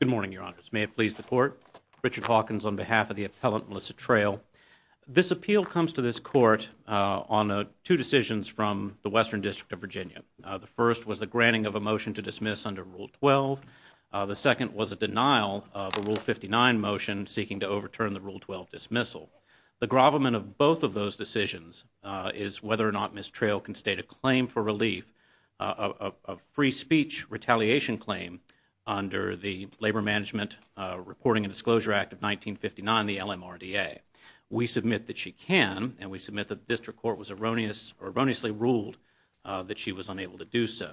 Good morning, Your Honors. May it please the Court, Richard Hawkins on behalf of the Appellant Melissa Trail. This appeal comes to this Court on two decisions from the Western District of Virginia. The first was the granting of a motion to dismiss under Rule 12. The second was a denial of a Rule 59 motion seeking to overturn the Rule 12 dismissal. The grovelment of both of those decisions is whether or not Ms. Trail can state a claim for relief, a free speech retaliation claim, under the Labor Management Reporting and Disclosure Act of 1959, the LMRDA. We submit that she can, and we submit that the District Court was erroneously ruled that she was unable to do so.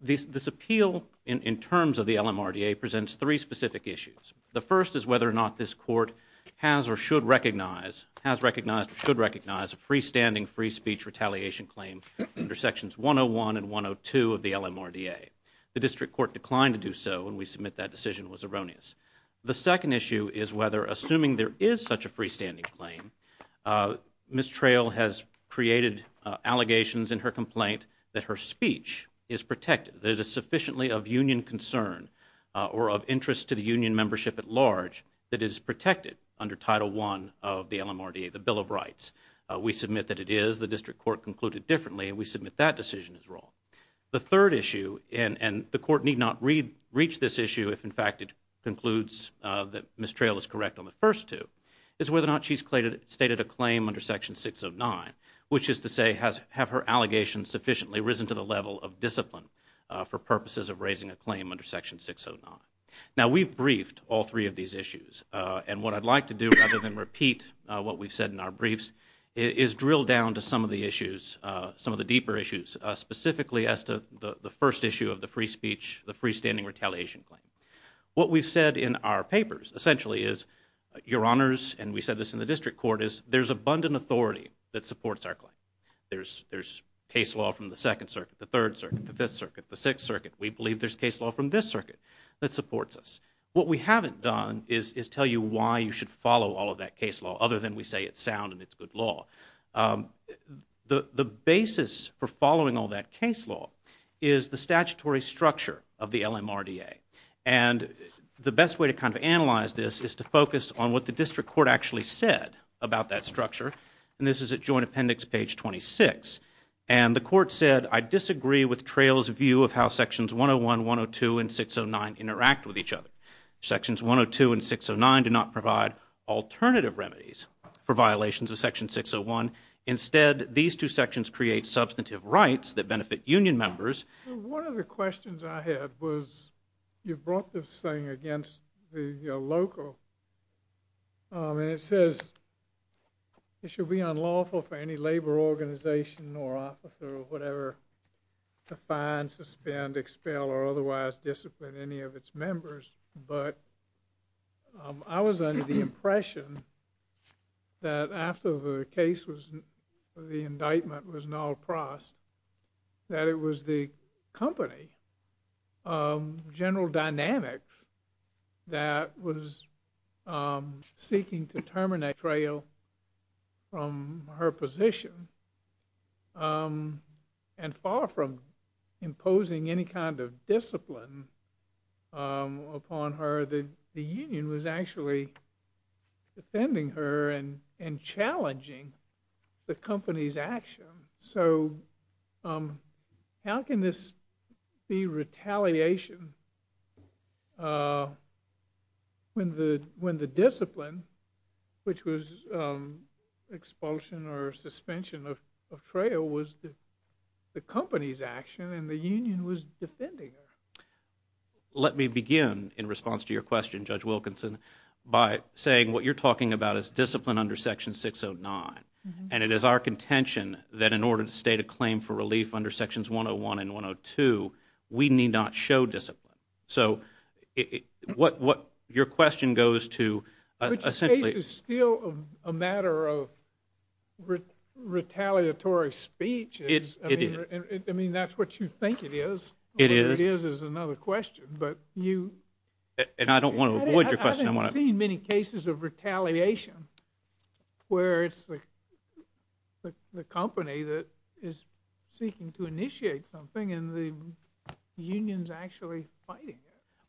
This appeal, in terms of the LMRDA, presents three specific issues. The first is whether or not this Court has or should recognize a freestanding free speech retaliation claim under Sections 101 and 102 of the LMRDA. The District Court declined to do so, and we submit that decision was erroneous. The second issue is whether, assuming there is such a freestanding claim, Ms. Trail has created allegations in her complaint that her speech is protected, that it is sufficiently of union concern or of interest to the union membership at large that it is protected under Title I of the LMRDA, the Bill of Rights. We submit that it is. The District Court concluded differently, and we submit that decision is wrong. The third issue, and the Court need not reach this issue if, in fact, it concludes that Ms. Trail is correct on the first two, is whether or not she has stated a claim under Section 609, which is to say, have her allegations sufficiently risen to the level of discipline for purposes of raising a claim under Section 609. Now we have briefed all three of these issues, and what I would like to do, rather than repeat what we have said in our briefs, is drill down to some of the issues, some of the deeper issues, specifically as to the first issue of the free speech, the freestanding retaliation claim. What we have said in our papers, essentially, is Your Honors, and we said this in the District Court, is there is abundant authority that supports our claim. There is case law from the Second Circuit, the Third Circuit, the Fifth Circuit, the Sixth Circuit. We believe there is case law from this circuit that supports us. What we haven't done is tell you why you should follow all of that case law, other than we say it is sound and it is good law. The basis for following all that case law is the statutory structure of the LMRDA. The best way to analyze this is to focus on what the District Court actually said about that structure. This is at Joint Appendix, page 26. The Court said, I disagree with Trayl's view of how Sections 101, 102, and 609 interact with each other. Sections 102 and 609 do not provide alternative remedies for violations of Section 601. Instead, these two sections create substantive rights that benefit union members. One of the questions I had was, you brought this thing against the local, and it says it should be unlawful for any labor organization or officer or whatever to fine, suspend, expel, or otherwise discipline any of its members, but I was under the impression that after the case was, the indictment was null prost, that it was the company, General Dynamics, that was seeking to terminate Trayl from her position, and far from imposing any kind of the company's action. So how can this be retaliation when the discipline, which was expulsion or suspension of Trayl, was the company's action and the union was defending her? Let me begin in response to your question, Judge Wilkinson, by saying what you're talking about is discipline under Section 609, and it is our contention that in order to state a claim for relief under Sections 101 and 102, we need not show discipline. But your case is still a matter of retaliatory speech. I mean, that's what you think it is. All it is, is another question. I don't want to avoid your question. I haven't seen many cases of retaliation where it's the company that is seeking to initiate something and the union's actually fighting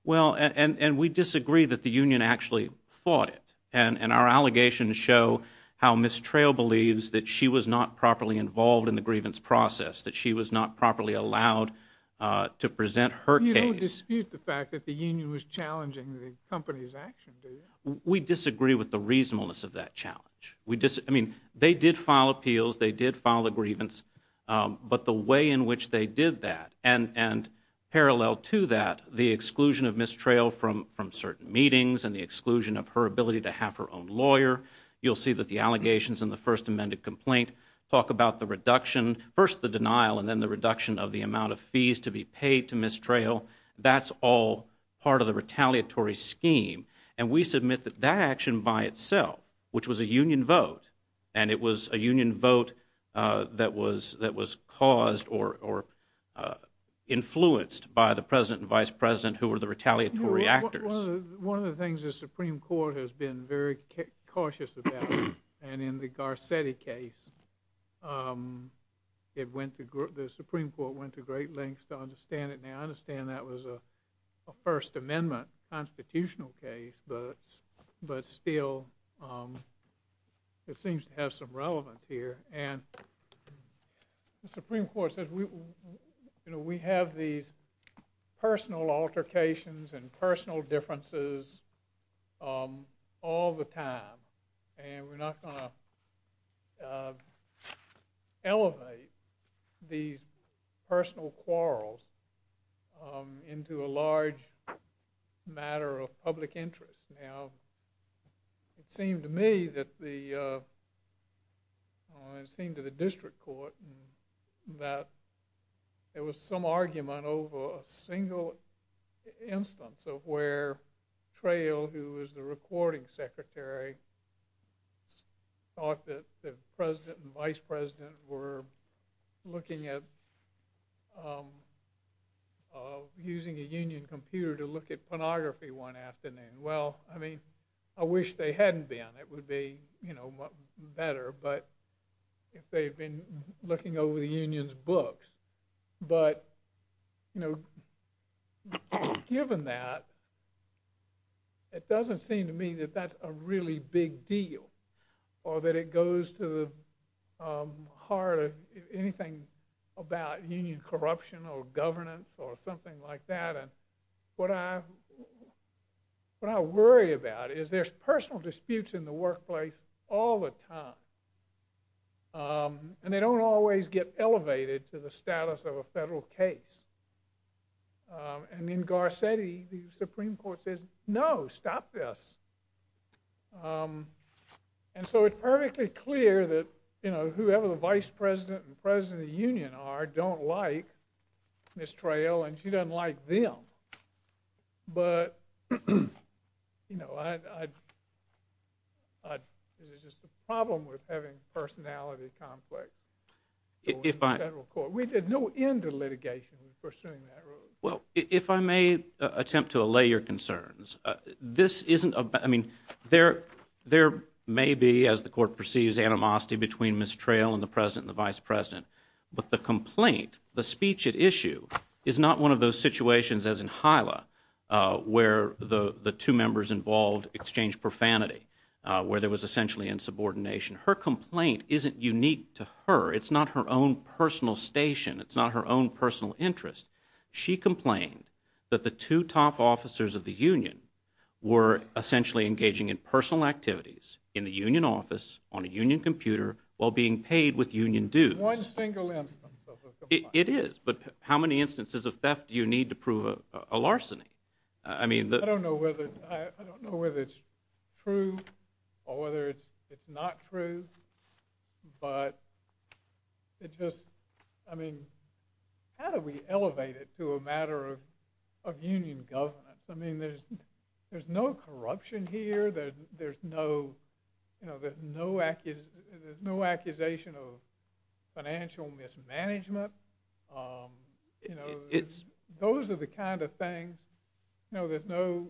it. And we disagree that the union actually fought it, and our allegations show how Ms. Trayl believes that she was not properly involved in the grievance process, that she was not properly allowed to present her case. You don't dispute the fact that the union was challenging the company's action, do you? We disagree with the reasonableness of that challenge. They did file appeals, they did file a grievance, but the way in which they did that, and parallel to that, the exclusion of Ms. Trayl from certain meetings and the exclusion of her ability to have her own lawyer, you'll see that the allegations in the first amended complaint talk about the reduction, first the denial and then the reduction of the amount of fees to be paid to Ms. Trayl, that's all part of the retaliatory scheme. And we submit that that action by itself, which was a union vote, and it was a union vote that was caused or influenced by the President and Vice President who were the retaliatory actors. One of the things the Supreme Court has been very cautious about, and in the Garcetti case, the Supreme Court went to great lengths to understand it, and I understand that was a First Amendment constitutional case, but still it seems to have some relevance here. And the Supreme Court says, you know, we have these personal altercations and personal differences all the time, and we're not going to elevate these personal quarrels into a large matter of public interest. Now, it seemed to me that the, it seemed to the District Court that there was some argument over a single instance of where Trayl, who was the recording secretary, thought that the President and Vice President were looking at, using a union computer to look at pornography one afternoon. Well, I mean, I wish they hadn't been, it would be, you know, better, but if they've been looking over the union's books, but, you know, given that, it doesn't seem to me that that's a really big deal, or that it goes to the heart of anything about union corruption or governance or something like that, and what I worry about is there's personal disputes in the workplace all the time, and they don't always get elevated to the status of a federal case. And in Garcetti, the Supreme Court says, no, stop this. And so it's perfectly clear that, you know, whoever the Vice President and President of Is it just a problem with having personality conflicts in the federal court? We did no end of litigation in pursuing that rule. Well, if I may attempt to allay your concerns, this isn't, I mean, there may be, as the Court perceives, animosity between Ms. Trayl and the President and the Vice President, but the complaint, the speech at issue, is not one of those situations, as in Hilah, where the two members involved exchanged profanity, where there was essentially insubordination. Her complaint isn't unique to her. It's not her own personal station. It's not her own personal interest. She complained that the two top officers of the union were essentially engaging in personal activities in the union office, on a union computer, while being paid with union dues. One single instance of a complaint. It is, but how many instances of theft do you need to prove a larceny? I don't know whether it's true, or whether it's not true, but it just, I mean, how do we elevate it to a matter of union governance? I mean, there's no corruption here, there's no accusation of financial mismanagement. Those are the kind of things, you know, there's no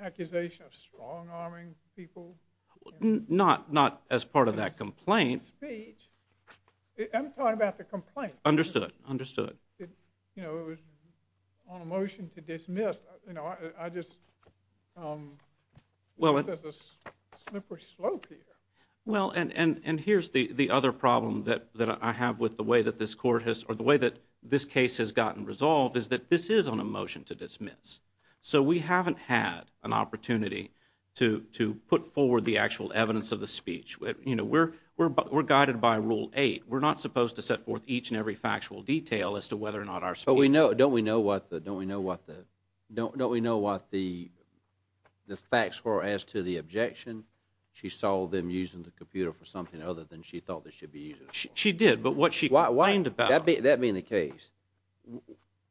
accusation of strong-arming people. Not as part of that complaint. The speech, I'm talking about the complaint. Understood, understood. You know, it was on a motion to dismiss, you know, I just, there's a slippery slope here. Well, and here's the other problem that I have with the way that this court has, or the way that this case has gotten resolved, is that this is on a motion to dismiss. So we haven't had an opportunity to put forward the actual evidence of the speech. You know, we're guided by Rule 8. We're not supposed to set forth each and every factual detail as to whether or not our speech But we know, don't we know what the, don't we know what the, don't we know what the facts were as to the objection? She saw them using the computer for something other than she thought they should be using it for. She did, but what she complained about... That being the case,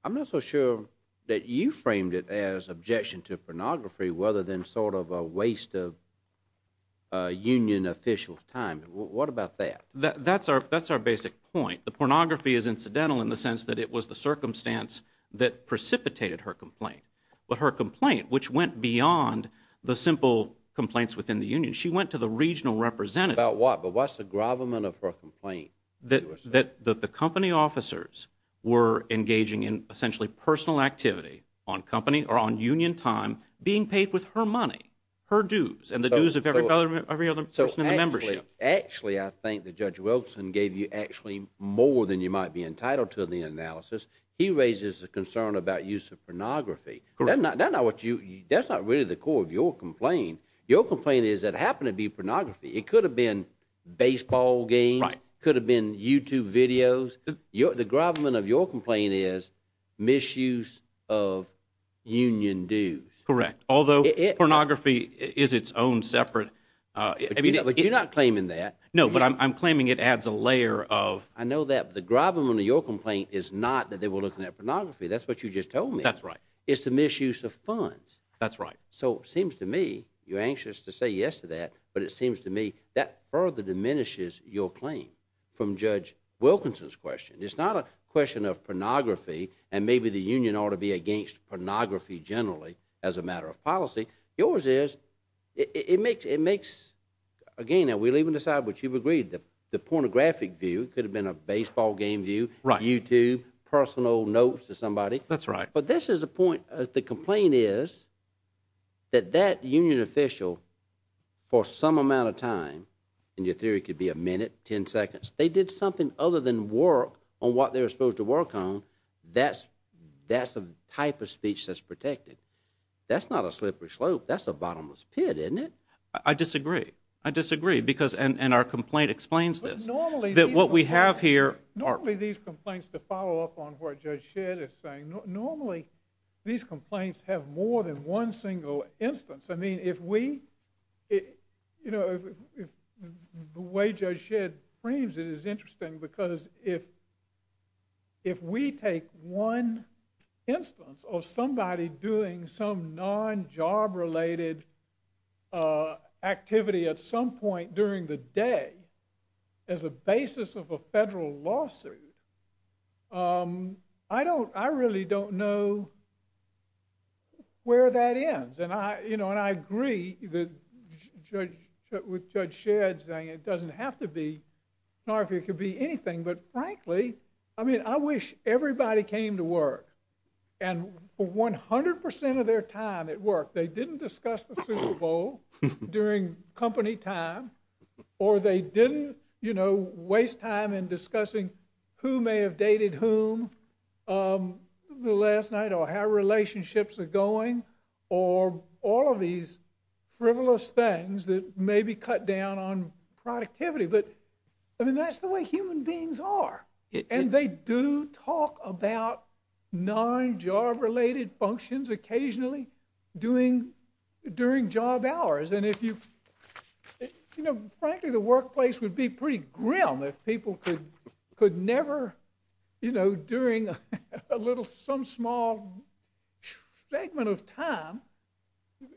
I'm not so sure that you framed it as objection to pornography rather than sort of a waste of union officials' time. What about that? That's our basic point. The pornography is incidental in the sense that it was the circumstance that precipitated her complaint. But her complaint, which went beyond the simple complaints within the union, she went to the regional representative. About what? But what's the gravamen of her complaint? That the company officers were engaging in, essentially, personal activity on company or on union time, being paid with her money, her dues, and the dues of every other person in the membership. So actually, I think that Judge Wilson gave you actually more than you might be entitled to in the analysis. He raises a concern about use of pornography. That's not really the core of your complaint. Your complaint is that it happened to be pornography. It could have been baseball games. Could have been YouTube videos. The gravamen of your complaint is misuse of union dues. Correct. Although, pornography is its own separate... But you're not claiming that. No, but I'm claiming it adds a layer of... I know that. The gravamen of your complaint is not that they were looking at pornography. That's what you just told me. That's right. It's the misuse of funds. That's right. So it seems to me, you're anxious to say yes to that, but it seems to me that further diminishes your claim from Judge Wilkinson's question. It's not a question of pornography and maybe the union ought to be against pornography generally as a matter of policy. Yours is, it makes, again, and we'll even decide what you've agreed, the pornographic view. It could have been a baseball game view, YouTube, personal notes to somebody. That's right. But this is the point. The complaint is that that union official, for some amount of time, and your theory could be a minute, 10 seconds, they did something other than work on what they were supposed to work on. That's a type of speech that's protected. That's not a slippery slope. That's a bottomless pit, isn't it? I disagree. I disagree, and our complaint explains this. Normally, these complaints, to follow up on what Judge Shedd is saying, normally these complaints have more than one single instance. I mean, if we, the way Judge Shedd frames it is interesting because if we take one instance of somebody doing some non-job related activity at some point during the day as a basis of a federal lawsuit, I don't, I really don't know where that ends. And I agree with Judge Shedd saying it doesn't have to be, it could be anything, but frankly, I mean, I wish everybody came to work, and for 100% of their time at work, they didn't discuss the Super Bowl during company time, or they didn't waste time in discussing who may have dated whom the last night, or how relationships are going, or all of these frivolous things that maybe cut down on productivity, but I mean, that's the way human beings are. And they do talk about non-job related functions occasionally during job hours, and if you, you know, frankly, the workplace would be pretty grim if people could never, you know, during a little, some small segment of time,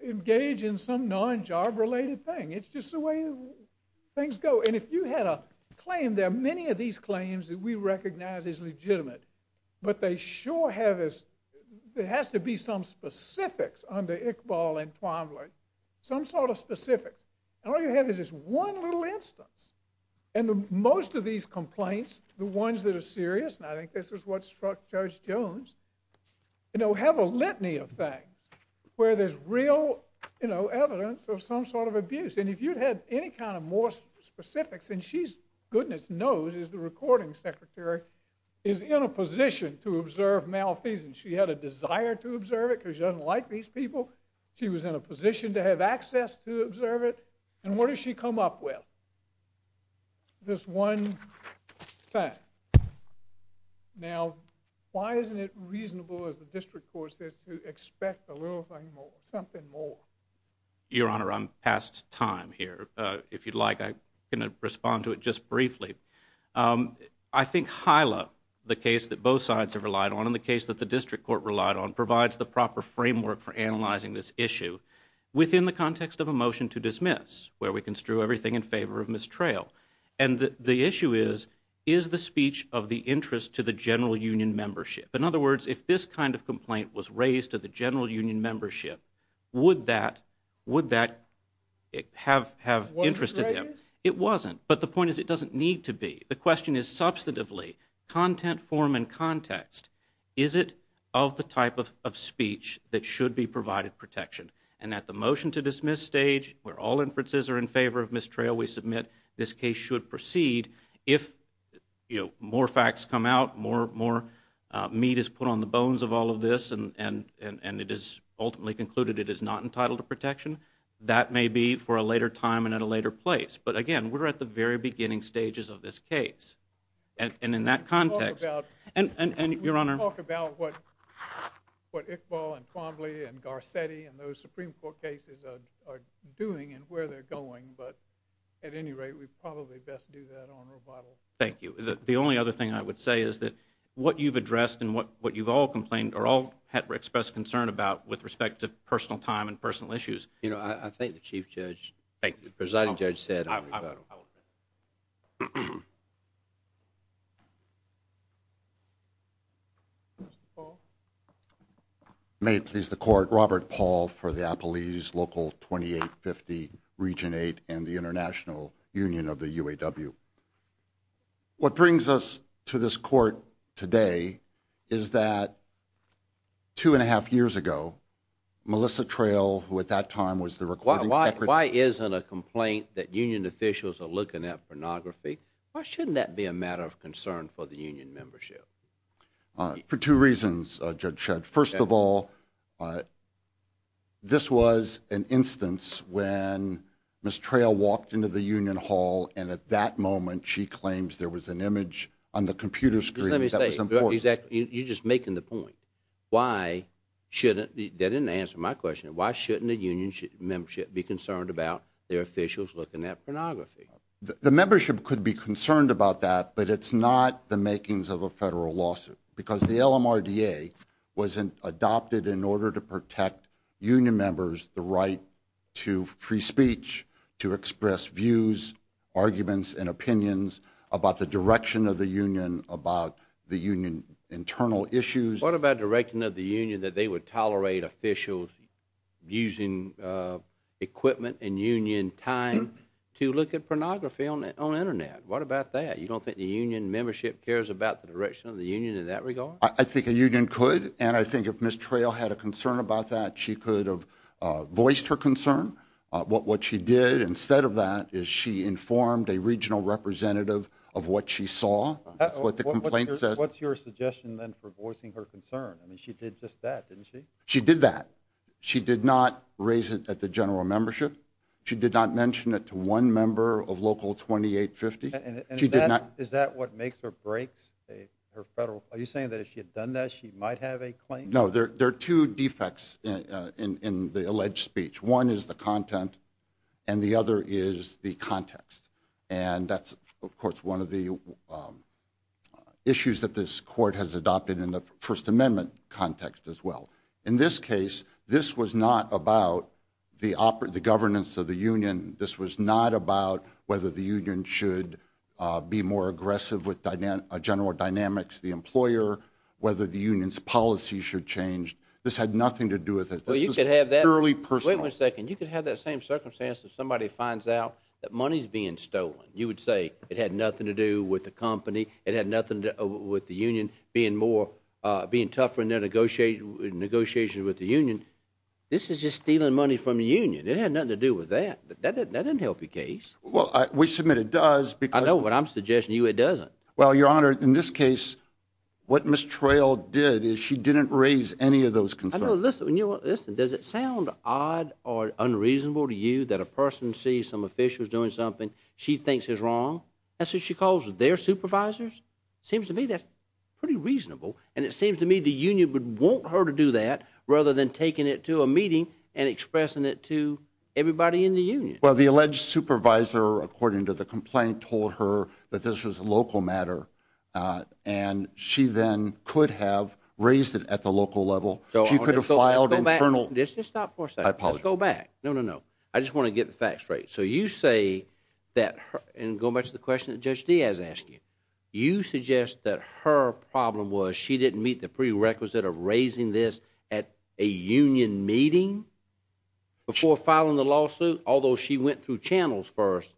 engage in some non-job related thing. It's just the way things go, and if you had a claim, there are many of these claims that we recognize as legitimate, but they sure have this, there has to be some specifics under Iqbal and Twombly, some sort of specifics, and all you have is this one little instance, and most of these complaints, the ones that are serious, and I think this is what struck Judge Jones, you know, have a litany of things, where there's real, you know, evidence of some sort of abuse, and if you had any kind of more specifics, then she's goodness knows as the recording secretary, is in a position to observe malfeasance. She had a desire to observe it, because she doesn't like these people, she was in a position to have access to observe it, and what does she come up with? This one thing. Now, why isn't it reasonable, as the district court says, to expect a little thing more, something more? Your Honor, I'm past time here. If you'd like, I'm going to respond to it just briefly. I think HILA, the case that both sides have relied on, and the case that the district court relied on, provides the proper framework for analyzing this issue within the context of a motion to dismiss, where we construe everything in favor of mistrail, and the issue is, is the speech of the interest to the general union membership? In other words, if this kind of complaint was raised to the general union membership, would that have interest to them? It wasn't, but the point is, it doesn't need to be. The question is, substantively, content, form, and context, is it of the type of speech that should be provided protection, and at the motion to dismiss stage, where all inferences are in favor of mistrail, we submit this case should proceed, if more facts come out, more it is put on the bones of all of this, and it is ultimately concluded it is not entitled to protection, that may be for a later time, and at a later place, but again, we're at the very beginning stages of this case, and in that context, and Your Honor, We can talk about what Iqbal, and Quambley, and Garcetti, and those Supreme Court cases are doing, and where they're going, but at any rate, we probably best do that on rebuttal. Thank you. The only other thing I would say is that, what you've addressed, and what you've all complained, or all expressed concern about, with respect to personal time, and personal issues. You know, I thank the Chief Judge. Thank you. The Presiding Judge said on rebuttal. Mr. Paul? May it please the Court, Robert Paul, for the Appalachian Local 2850, Region 8, and the International Union of the UAW. Thank you. What brings us to this Court today, is that, two and a half years ago, Melissa Trail, who at that time was the Recording Secretary. Why isn't a complaint that union officials are looking at pornography, why shouldn't that be a matter of concern for the union membership? For two reasons, Judge Shedd. First of all, this was an instance when Ms. Trail walked into the union hall, and at that moment, she claims there was an image on the computer screen that was important. Let me say, you're just making the point. Why shouldn't, that didn't answer my question, why shouldn't a union membership be concerned about their officials looking at pornography? The membership could be concerned about that, but it's not the makings of a federal lawsuit. Because the LMRDA was adopted in order to protect union members the right to free speech, to express views, arguments, and opinions about the direction of the union, about the union internal issues. What about the direction of the union that they would tolerate officials using equipment and union time to look at pornography on the internet? What about that? You don't think the union membership cares about the direction of the union in that regard? I think a union could, and I think if Ms. Trail had a concern about that, she could have voiced her concern. What she did instead of that is she informed a regional representative of what she saw. What's your suggestion then for voicing her concern? She did just that, didn't she? She did that. She did not raise it at the general membership. She did not mention it to one member of local 2850. Is that what makes or breaks her federal, are you saying that if she had done that she might have a claim? No, there are two defects in the alleged speech. One is the content and the other is the context. And that's, of course, one of the issues that this court has adopted in the First Amendment context as well. In this case, this was not about the governance of the union. This was not about whether the union should be more aggressive with general dynamics, the employer, whether the union's policy should change. This had nothing to do with it. This was purely personal. Wait one second. You could have that same circumstance if somebody finds out that money's being stolen. You would say it had nothing to do with the company. It had nothing to do with the union being tougher in their negotiations with the union. This is just stealing money from the union. It had nothing to do with that. That doesn't help your case. We submit it does. I know, but I'm suggesting to you it doesn't. Well, Your Honor, in this case, what Ms. Trail did is she didn't raise any of those concerns. Listen, does it sound odd or unreasonable to you that a person sees some officials doing something she thinks is wrong? That's what she calls their supervisors? Seems to me that's pretty reasonable, and it seems to me the union would want her to do that rather than taking it to a meeting and expressing it to everybody in the union. Well, the alleged supervisor, according to the complaint, told her that this was a local matter, and she then could have raised it at the local level. She could have filed an internal... Let's go back. Let's just stop for a second. I apologize. Let's go back. No, no, no. I just want to get the facts straight. So you say that her... And go back to the question that Judge Diaz asked you. You suggest that her problem was she didn't meet the prerequisite of raising this at a union meeting before filing the lawsuit, although she went through channels first.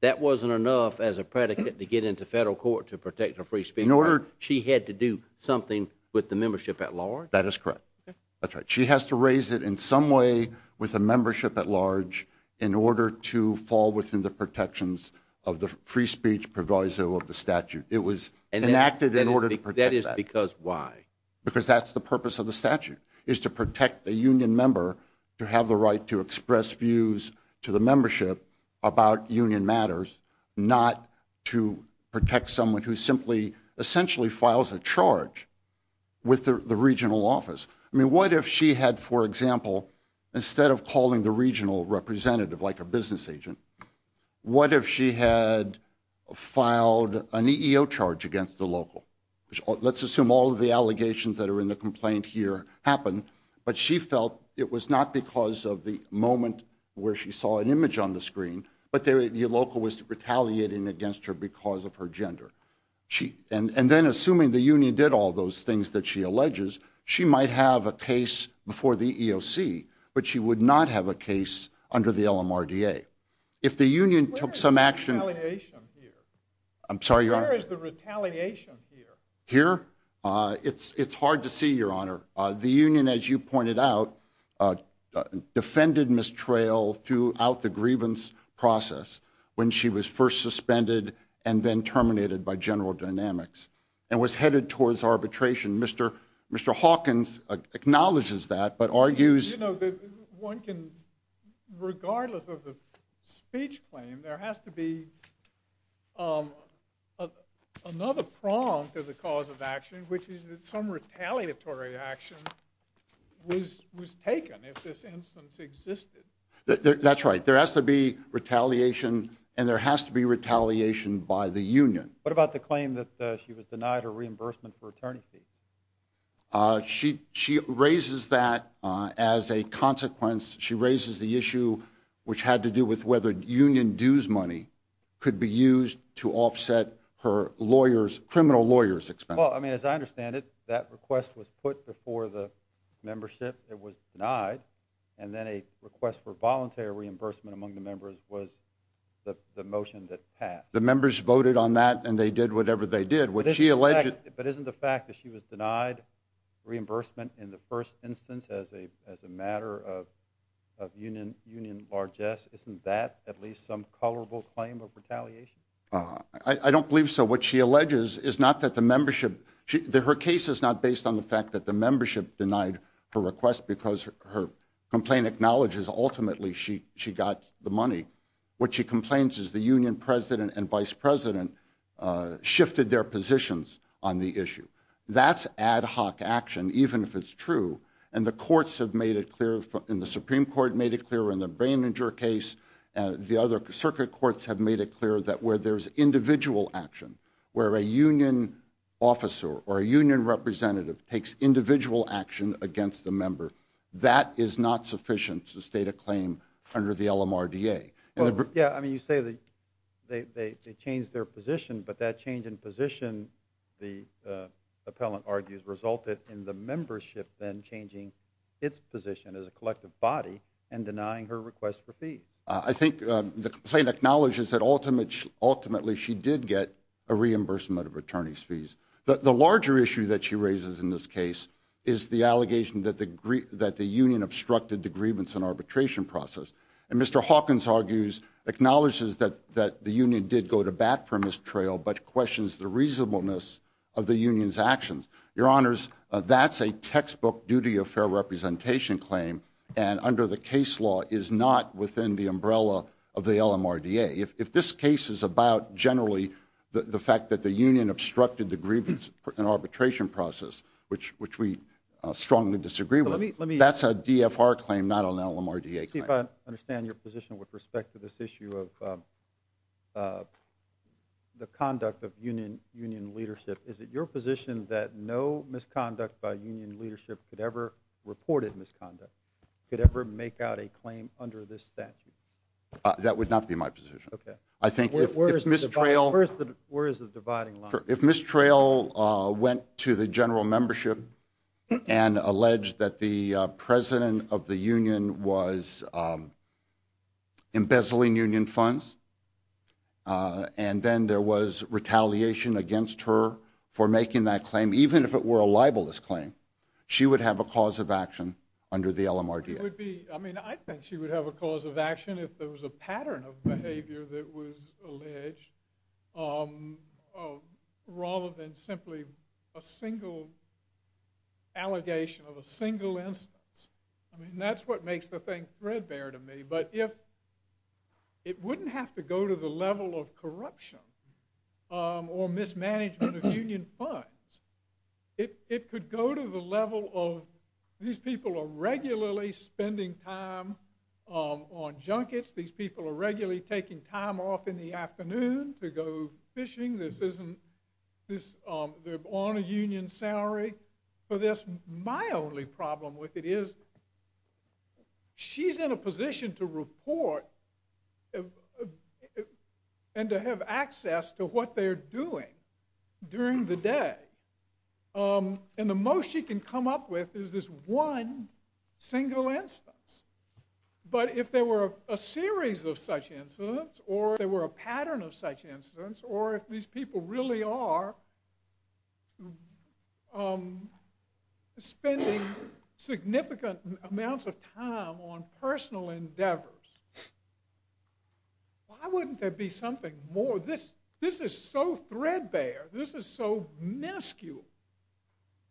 That wasn't enough as a predicate to get into federal court to protect her free speech. In order... She had to do something with the membership at large? That is correct. That's right. She has to raise it in some way with a membership at large in order to fall within the protections of the free speech proviso of the statute. It was enacted in order to protect that. That is because why? Because that's the purpose of the statute, is to protect the union member to have the right to express views to the membership about union matters, not to protect someone who simply, essentially files a charge with the regional office. I mean, what if she had, for example, instead of calling the regional representative like a business agent, what if she had filed an EEO charge against the local? Let's assume all of the allegations that are in the complaint here happened, but she felt it was not because of the moment where she saw an image on the screen, but the local was retaliating against her because of her gender. And then assuming the union did all those things that she alleges, she might have a case before the EEOC, but she would not have a case under the LMRDA. If the union took some action... Where is the retaliation here? I'm sorry, Your Honor. Where is the retaliation here? Here? It's hard to see, Your Honor. The union, as you pointed out, defended Ms. Traill throughout the grievance process when she was first suspended and then terminated by General Dynamics and was headed towards arbitration. Mr. Hawkins acknowledges that, but argues... One can, regardless of the speech claim, there has to be another prong to the cause of action, which is that some retaliatory action was taken if this instance existed. That's right. There has to be retaliation, and there has to be retaliation by the union. What about the claim that she was denied her reimbursement for attorney fees? She raises that as a consequence. She raises the issue, which had to do with whether union dues money could be used to offset her lawyer's, criminal lawyer's expenses. As I understand it, that request was put before the membership. It was denied, and then a request for voluntary reimbursement among the members was the motion that passed. The members voted on that, and they did whatever they did, which she alleged... But isn't the fact that she was denied reimbursement in the first instance as a matter of union largesse, isn't that at least some colorable claim of retaliation? I don't believe so. What she alleges is not that the membership... Her case is not based on the fact that the membership denied her request because her complaint acknowledges ultimately she got the money. What she complains is the union president and vice president shifted their positions on the issue. That's ad hoc action, even if it's true, and the courts have made it clear, and the Supreme Court made it clear in the Braininger case, the other circuit courts have made it clear that where there's individual action, where a union officer or a union representative takes individual action against a member, that is not sufficient to state a claim under the LMRDA. Yeah, I mean, you say they changed their position, but that change in position, the appellant argues, resulted in the membership then changing its position as a collective body and denying her request for fees. I think the complaint acknowledges that ultimately she did get a reimbursement of attorney's fees. The larger issue that she raises in this case is the allegation that the union obstructed the grievance and arbitration process. And Mr. Hawkins argues, acknowledges that the union did go to bat from this trail, but questions the reasonableness of the union's actions. Your honors, that's a textbook duty of fair representation claim, and under the case law is not within the umbrella of the LMRDA. If this case is about generally the fact that the union obstructed the grievance and arbitration process, which we strongly disagree with, that's a DFR claim, not an LMRDA claim. Steve, I understand your position with respect to this issue of the conduct of union leadership. Is it your position that no misconduct by union leadership could ever, reported misconduct, could ever make out a claim under this statute? That would not be my position. Okay. I think if Ms. Trail... Where is the dividing line? If Ms. Trail went to the general membership and alleged that the president of the union was embezzling union funds, and then there was retaliation against her for making that the LMRDA. It would be... I mean, I think she would have a cause of action if there was a pattern of behavior that was alleged, rather than simply a single allegation of a single instance. I mean, that's what makes the thing threadbare to me. But if... It wouldn't have to go to the level of corruption or mismanagement of union funds. It could go to the level of, these people are regularly spending time on junkets. These people are regularly taking time off in the afternoon to go fishing. This isn't... They're on a union salary for this. My only problem with it is, she's in a position to report and to have access to what they're doing during the day. And the most she can come up with is this one single instance. But if there were a series of such incidents, or if there were a pattern of such incidents, or if these people really are spending significant amounts of time on personal endeavors, why wouldn't there be something more? This is so threadbare. This is so minuscule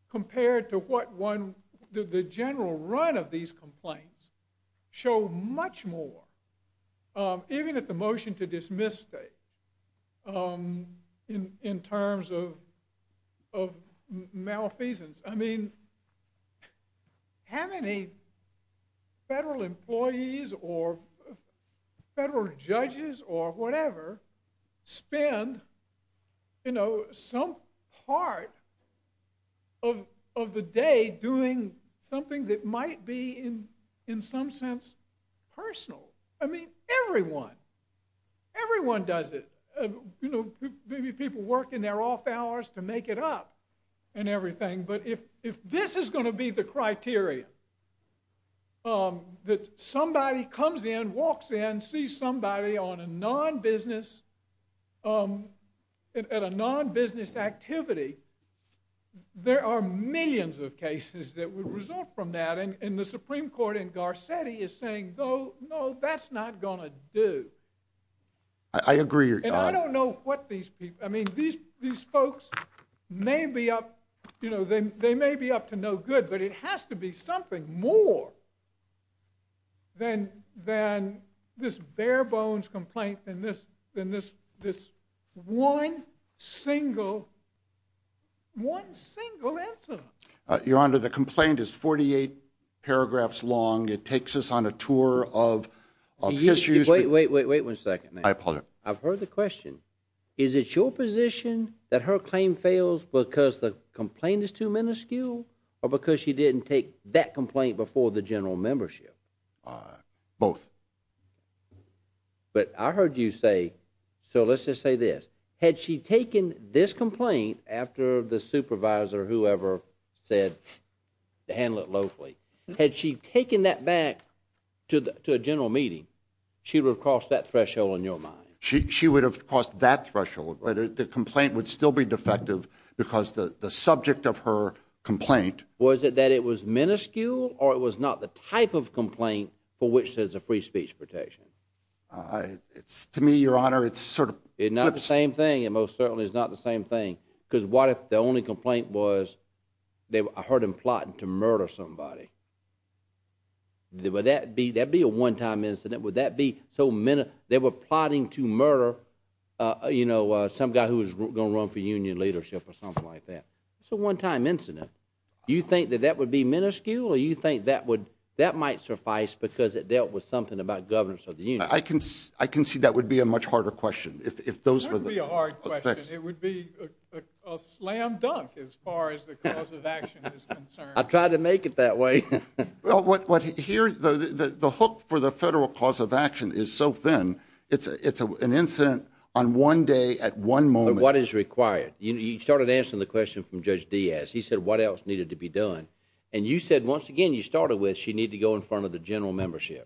compared to what one... The general run of these complaints show much more, even at the motion to dismiss state, in terms of malfeasance. I mean, how many federal employees or federal judges or whatever spend some part of the day doing something that might be, in some sense, personal? I mean, everyone. Everyone does it. Maybe people work in their off hours to make it up and everything. But if this is going to be the criteria, that somebody comes in, walks in, sees somebody on a non-business activity, there are millions of cases that would result from that. And the Supreme Court in Garcetti is saying, no, that's not going to do. I agree. And I don't know what these people... I mean, these folks may be up to no good, but it has to be something more than this bare-bones complaint, than this one single incident. Your Honor, the complaint is 48 paragraphs long. It takes us on a tour of his use... Wait, wait, wait, wait one second. I apologize. I've heard the question. Is it your position that her claim fails because the complaint is too minuscule or because she didn't take that complaint before the general membership? Both. But I heard you say... So let's just say this. Had she taken this complaint after the supervisor or whoever said to handle it locally, had she taken that back to a general meeting, she would have crossed that threshold in your mind. She would have crossed that threshold, but the complaint would still be defective because the subject of her complaint... Was it that it was minuscule or it was not the type of complaint for which there's a free speech protection? To me, Your Honor, it's sort of... It's not the same thing. It most certainly is not the same thing, because what if the only complaint was I heard him plotting to murder somebody? Would that be a one-time incident? Would that be so minus... They were plotting to murder some guy who was going to run for union leadership or something like that. It's a one-time incident. You think that that would be minuscule or you think that might suffice because it dealt with something about governance of the union? I can see that would be a much harder question. If those were the... It wouldn't be a hard question. It would be a slam dunk as far as the cause of action is concerned. I tried to make it that way. The hook for the federal cause of action is so thin, it's an incident on one day at one moment. But what is required? You started answering the question from Judge Diaz. He said what else needed to be done. And you said, once again, you started with she needed to go in front of the general membership.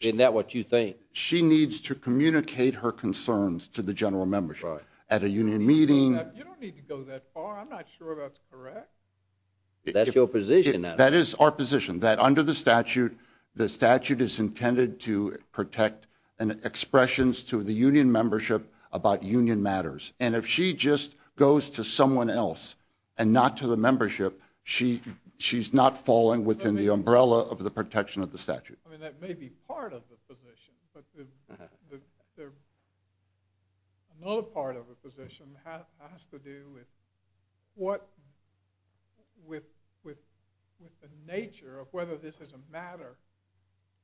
Isn't that what you think? She needs to communicate her concerns to the general membership at a union meeting. You don't need to go that far. I'm not sure that's correct. That's your position. That is our position, that under the statute, the statute is intended to protect expressions to the union membership about union matters. And if she just goes to someone else and not to the membership, she's not falling within the umbrella of the protection of the statute. That may be part of the position, but another part of the position has to do with the nature of whether this is a matter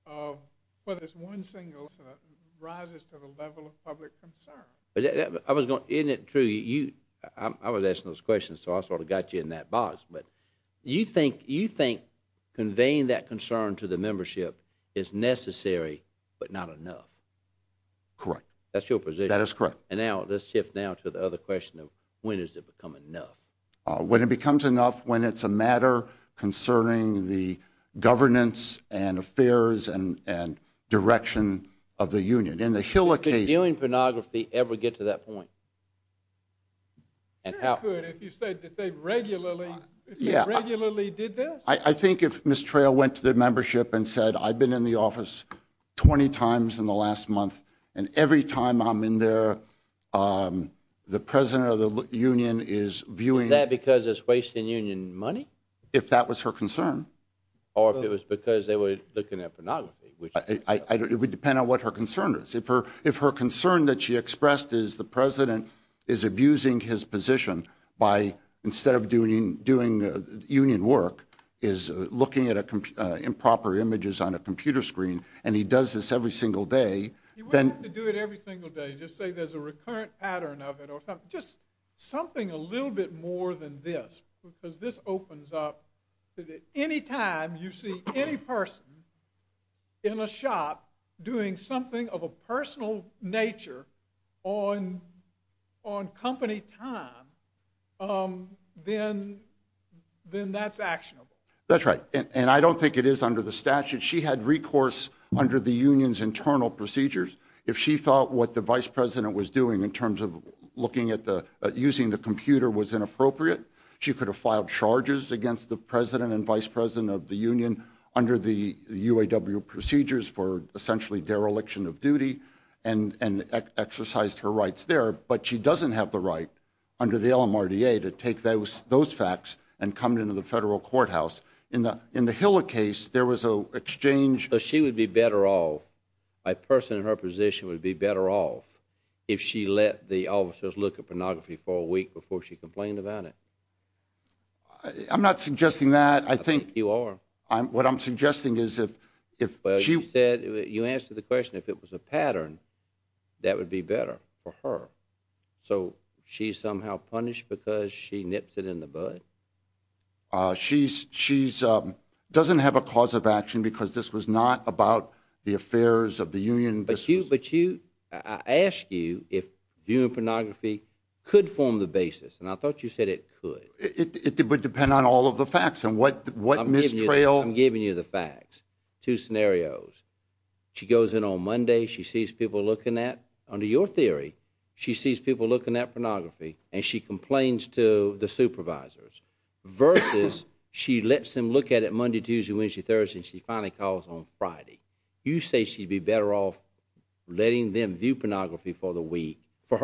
of whether one single incident rises to the level of public concern. Isn't it true? I was asking those questions, so I sort of got you in that box, but you think conveying that concern to the membership is necessary, but not enough. Correct. That's your position. That is correct. And now let's shift now to the other question of when does it become enough? When it becomes enough when it's a matter concerning the governance and affairs and direction of the union. In the Hill occasion. Did dealing pornography ever get to that point? And how? They could if you said that they regularly did this. I think if Ms. Trail went to the membership and said, I've been in the office 20 times in the last month, and every time I'm in there, the president of the union is viewing. Is that because it's wasting union money? If that was her concern. Or if it was because they were looking at pornography, which. It would depend on what her concern is. If her concern that she expressed is the president is abusing his position by instead of doing union work, is looking at improper images on a computer screen, and he does this every single day. You wouldn't have to do it every single day. Just say there's a recurrent pattern of it. Just something a little bit more than this, because this opens up to any time you see any person in a shop doing something of a personal nature on company time, then that's actionable. That's right. And I don't think it is under the statute. She had recourse under the union's internal procedures. If she thought what the vice president was doing in terms of looking at using the computer was inappropriate, she could have filed charges against the president and vice president of the union under the UAW procedures for essentially dereliction of duty, and exercised her rights there. But she doesn't have the right under the LMRDA to take those facts and come into the federal courthouse. In the Hiller case, there was an exchange. She would be better off, a person in her position would be better off if she let the officers look at pornography for a week before she complained about it. I'm not suggesting that. I think you are. What I'm suggesting is if she... You answered the question. If it was a pattern, that would be better for her. So she's somehow punished because she nips it in the bud? She doesn't have a cause of action because this was not about the affairs of the union. But I asked you if union pornography could form the basis, and I thought you said it could. It would depend on all of the facts and what mistrail... I'm giving you the facts, two scenarios. She goes in on Monday, she sees people looking at, under your theory, she sees people looking at pornography, and she complains to the supervisors, versus she lets them look at it Monday, Tuesday, Wednesday, Thursday, and she finally calls on Friday. You say she'd be better off letting them view pornography for the week. For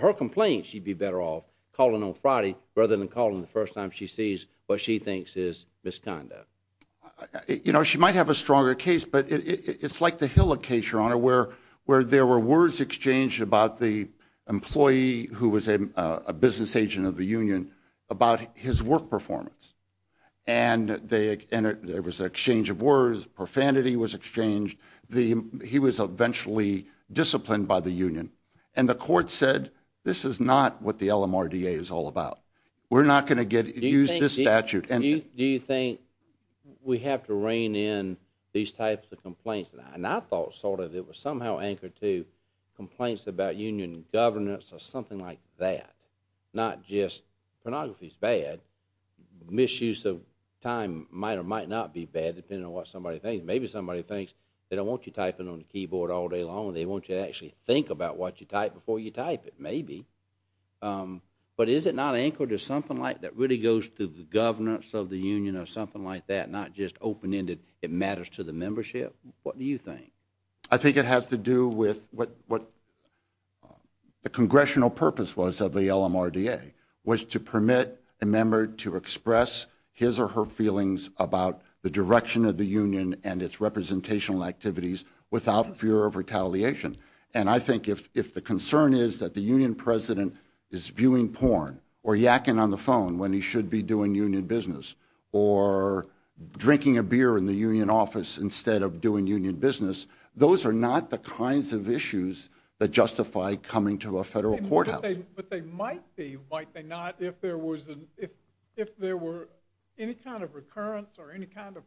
her complaint, she'd be better off calling on Friday rather than calling the first time she sees what she thinks is misconduct. She might have a stronger case, but it's like the Hill case, Your Honor, where there were words exchanged about the employee who was a business agent of the union about his work performance. There was an exchange of words, profanity was exchanged. He was eventually disciplined by the union. And the court said, this is not what the LMRDA is all about. We're not going to use this statute. Do you think we have to rein in these types of complaints? And I thought sort of it was somehow anchored to complaints about union governance or something like that. Not just, pornography's bad, misuse of time might or might not be bad, depending on what somebody thinks. Maybe somebody thinks they don't want you typing on the keyboard all day long, they want you to actually think about what you type before you type it, maybe. But is it not anchored to something like that really goes to the governance of the union or something like that, not just open-ended, it matters to the membership? What do you think? I think it has to do with what the congressional purpose was of the LMRDA, was to permit a member to express his or her feelings about the direction of the union and its representational activities without fear of retaliation. And I think if the concern is that the union president is viewing porn or yakking on the phone when he should be doing union business, or drinking a beer in the union office instead of doing union business, those are not the kinds of issues that justify coming to a federal courthouse. But they might be, might they not, if there were any kind of recurrence or any kind of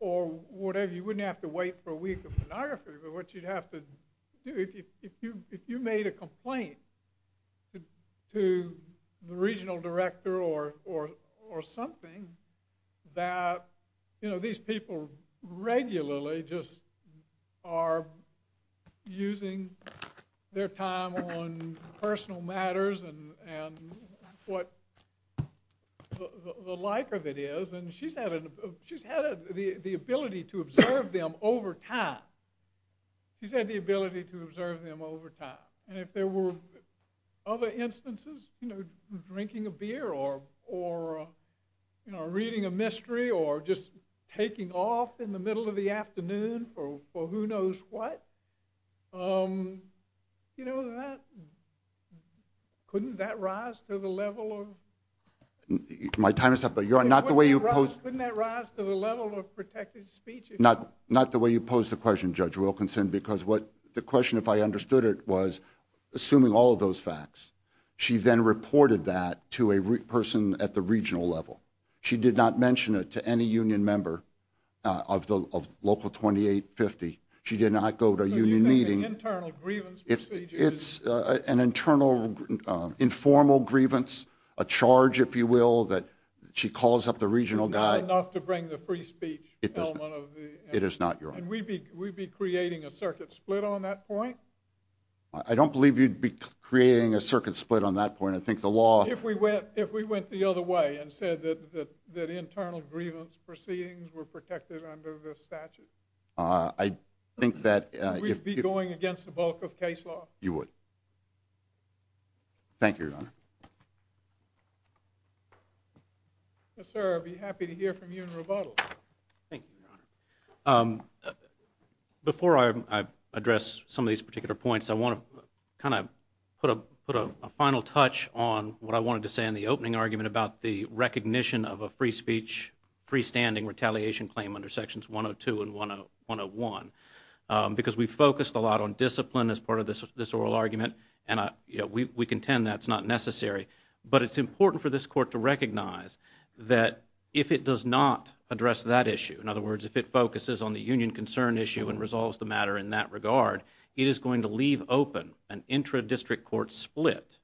You wouldn't have to wait for a week of pornography, but what you'd have to do, if you made a complaint to the regional director or something that, you know, these people regularly just are using their time on personal matters and what the like of it is, and she's had the ability to observe them over time. She's had the ability to observe them over time. And if there were other instances, you know, drinking a beer or, you know, reading a mystery or just taking off in the middle of the afternoon for who knows what, you know, that, couldn't that rise to the level of My time is up, but you're not the way you couldn't that rise to the level of protected speech? Not, not the way you posed the question, Judge Wilkinson, because what the question, if I understood it, was assuming all of those facts, she then reported that to a person at the regional level. She did not mention it to any union member of the local 2850. She did not go to a union meeting, an internal, informal grievance, a charge, if you will, that she calls up the regional guy, not to bring the free speech element of the, it is not your own. And we'd be, we'd be creating a circuit split on that point. I don't believe you'd be creating a circuit split on that point. I think the law, if we went, if we went the other way and said that, that, that internal grievance proceedings were protected under the statute, I think that if we'd be going against the bulk of case law, you would thank you, your honor. Yes, sir. I'd be happy to hear from you in rebuttal. Thank you, your honor. Before I address some of these particular points, I want to kind of put a, put a final touch on what I wanted to say in the opening argument about the recognition of a free speech, freestanding retaliation claim under sections 102 and 101, because we focused a lot on discipline as part of this, this oral argument. And I, you know, we, we contend that's not necessary. But it's important for this court to recognize that if it does not address that issue, in other words, if it focuses on the union concern issue and resolves the matter in that regard, it is going to leave open an intra-district court split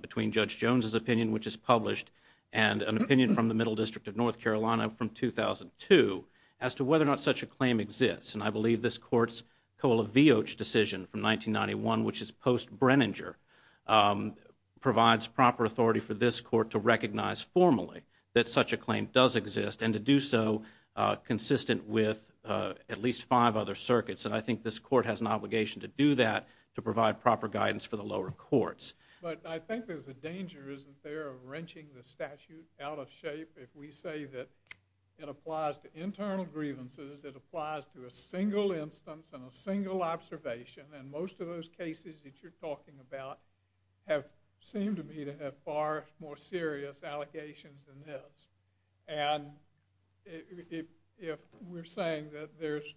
between Judge Jones's opinion, which is published, and an opinion from the Middle District of North Carolina from 2002 as to whether or not such a claim exists. And I believe this court's Koala Vioch decision from 1991, which is post-Brenninger, provides proper authority for this court to recognize formally that such a claim does exist, and to do so consistent with at least five other circuits. And I think this court has an obligation to do that, to provide proper guidance for the lower courts. But I think there's a danger, isn't there, of wrenching the statute out of shape if we say that it applies to internal grievances, it applies to a single instance and a single instance. It's likely to have far more serious allegations than this. And if we're saying that there's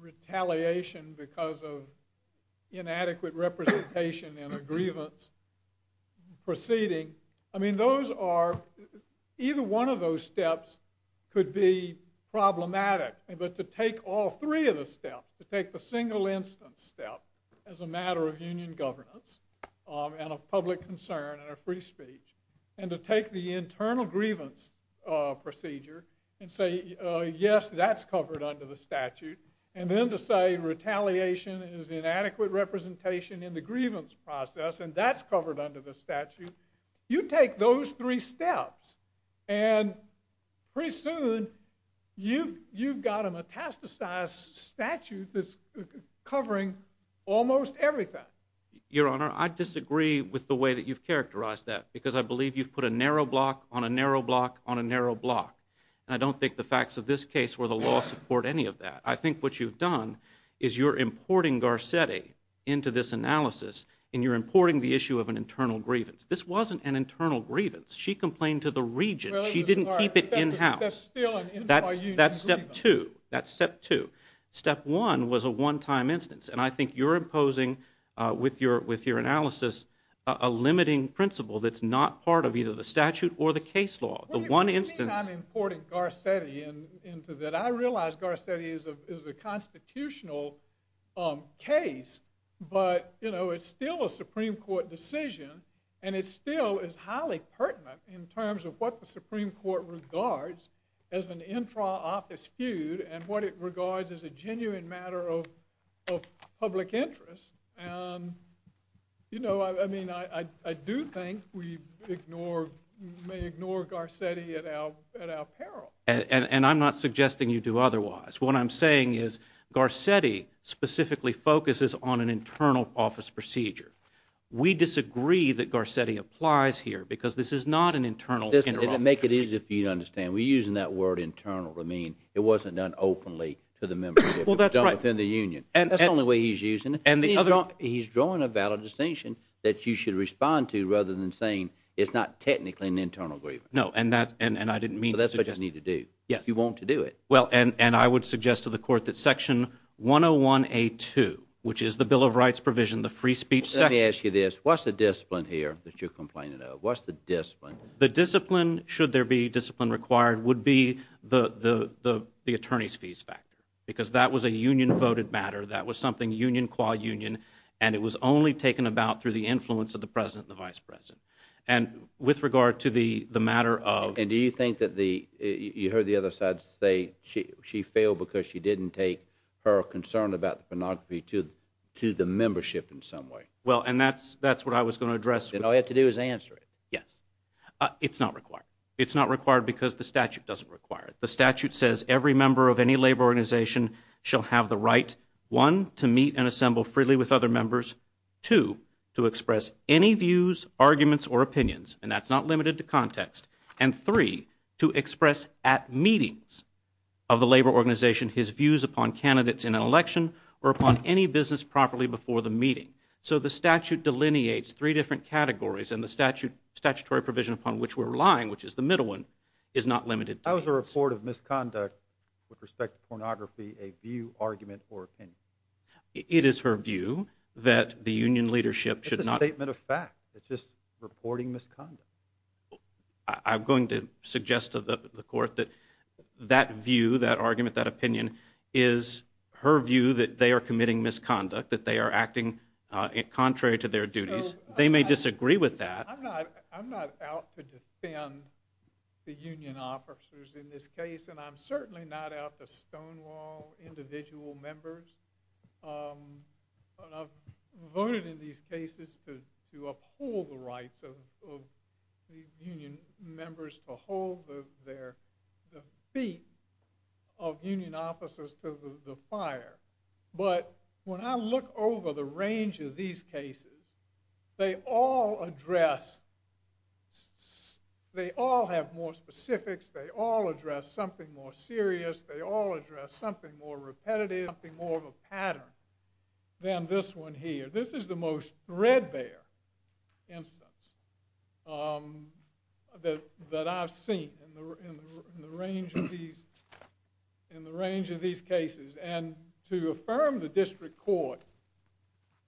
retaliation because of inadequate representation in a grievance proceeding, I mean, those are, either one of those steps could be problematic. But to take all three of the steps, to take the single instance step as a matter of union governance and of public concern and of free speech, and to take the internal grievance procedure and say, yes, that's covered under the statute, and then to say retaliation is inadequate representation in the grievance process, and that's covered under the statute, you take those three steps, and pretty soon, you've got a metastasized statute that's covering almost everything. Your Honor, I disagree with the way that you've characterized that, because I believe you've put a narrow block on a narrow block on a narrow block, and I don't think the facts of this case or the law support any of that. I think what you've done is you're importing Garcetti into this analysis, and you're importing the issue of an internal grievance. This wasn't an internal grievance. She complained to the region. She didn't keep it in house. That's step two. That's step two. Step one was a one-time instance, and I think you're imposing, with your analysis, a limiting principle that's not part of either the statute or the case law. The one instance— What do you mean I'm importing Garcetti into that? I realize Garcetti is a constitutional case, but it's still a Supreme Court decision, and it still is highly pertinent in terms of what the Supreme Court regards as an intra-office feud and what it regards as a genuine matter of public interest. You know, I mean, I do think we may ignore Garcetti at our peril. And I'm not suggesting you do otherwise. What I'm saying is Garcetti specifically focuses on an internal office procedure. We disagree that Garcetti applies here, because this is not an internal interruption. And to make it easier for you to understand, we're using that word internal to mean it wasn't done openly to the members of the— Well, that's right. —jump within the union. And that's the only way he's using it. And the other— He's drawing a valid distinction that you should respond to, rather than saying it's not technically an internal grievance. No, and that—and I didn't mean to suggest— So that's what you need to do. Yes. You want to do it. Well, and I would suggest to the Court that Section 101A2, which is the Bill of Rights provision, the free speech section— Let me ask you this. What's the discipline here that you're complaining of? What's the discipline? The discipline, should there be discipline required, would be the attorney's fees factor, because that was a union-voted matter. That was something union qua union, and it was only taken about through the influence of the President and the Vice President. And with regard to the matter of— And do you think that the—you heard the other side say she failed because she didn't take her concern about the pornography to the membership in some way? Well, and that's what I was going to address. Then all you have to do is answer it. Yes. It's not required. It's not required because the statute doesn't require it. The statute says every member of any labor organization shall have the right, one, to meet and assemble freely with other members, two, to express any views, arguments, or opinions, and that's not limited to context, and three, to express at meetings of the labor organization his views upon candidates in an election or upon any business properly before the meeting. So the statute delineates three different categories, and the statutory provision upon which we're relying, which is the middle one, is not limited to— How is the report of misconduct with respect to pornography a view, argument, or opinion? It is her view that the union leadership should not— It's a statement of fact. It's just reporting misconduct. I'm going to suggest to the Court that that view, that argument, that opinion is her view that they are committing misconduct, that they are acting contrary to their duties. They may disagree with that. I'm not out to defend the union officers in this case, and I'm certainly not out to stonewall individual members, but I've voted in these cases to uphold the rights of union members to hold their feet of union officers to the fire. But when I look over the range of these cases, they all address—they all have more specifics. They all address something more serious. They all address something more repetitive, something more of a pattern than this one here. This is the most threadbare instance that I've seen in the range of these cases, and to affirm the district court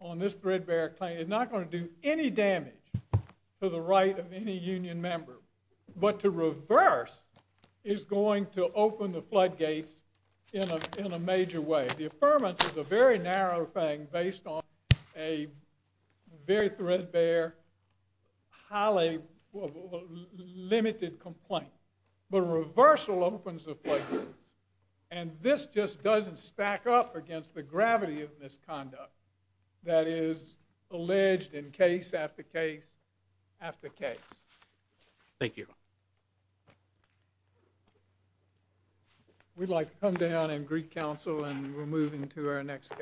on this threadbare claim is not going to do any damage to the right of any union member, but to reverse is going to open the floodgates in a major way. The affirmance is a very narrow thing based on a very threadbare, highly limited complaint, but a reversal opens the floodgates, and this just doesn't stack up against the gravity of misconduct that is alleged in case after case after case. Thank you. We'd like to come down and greet counsel, and we're moving to our next case.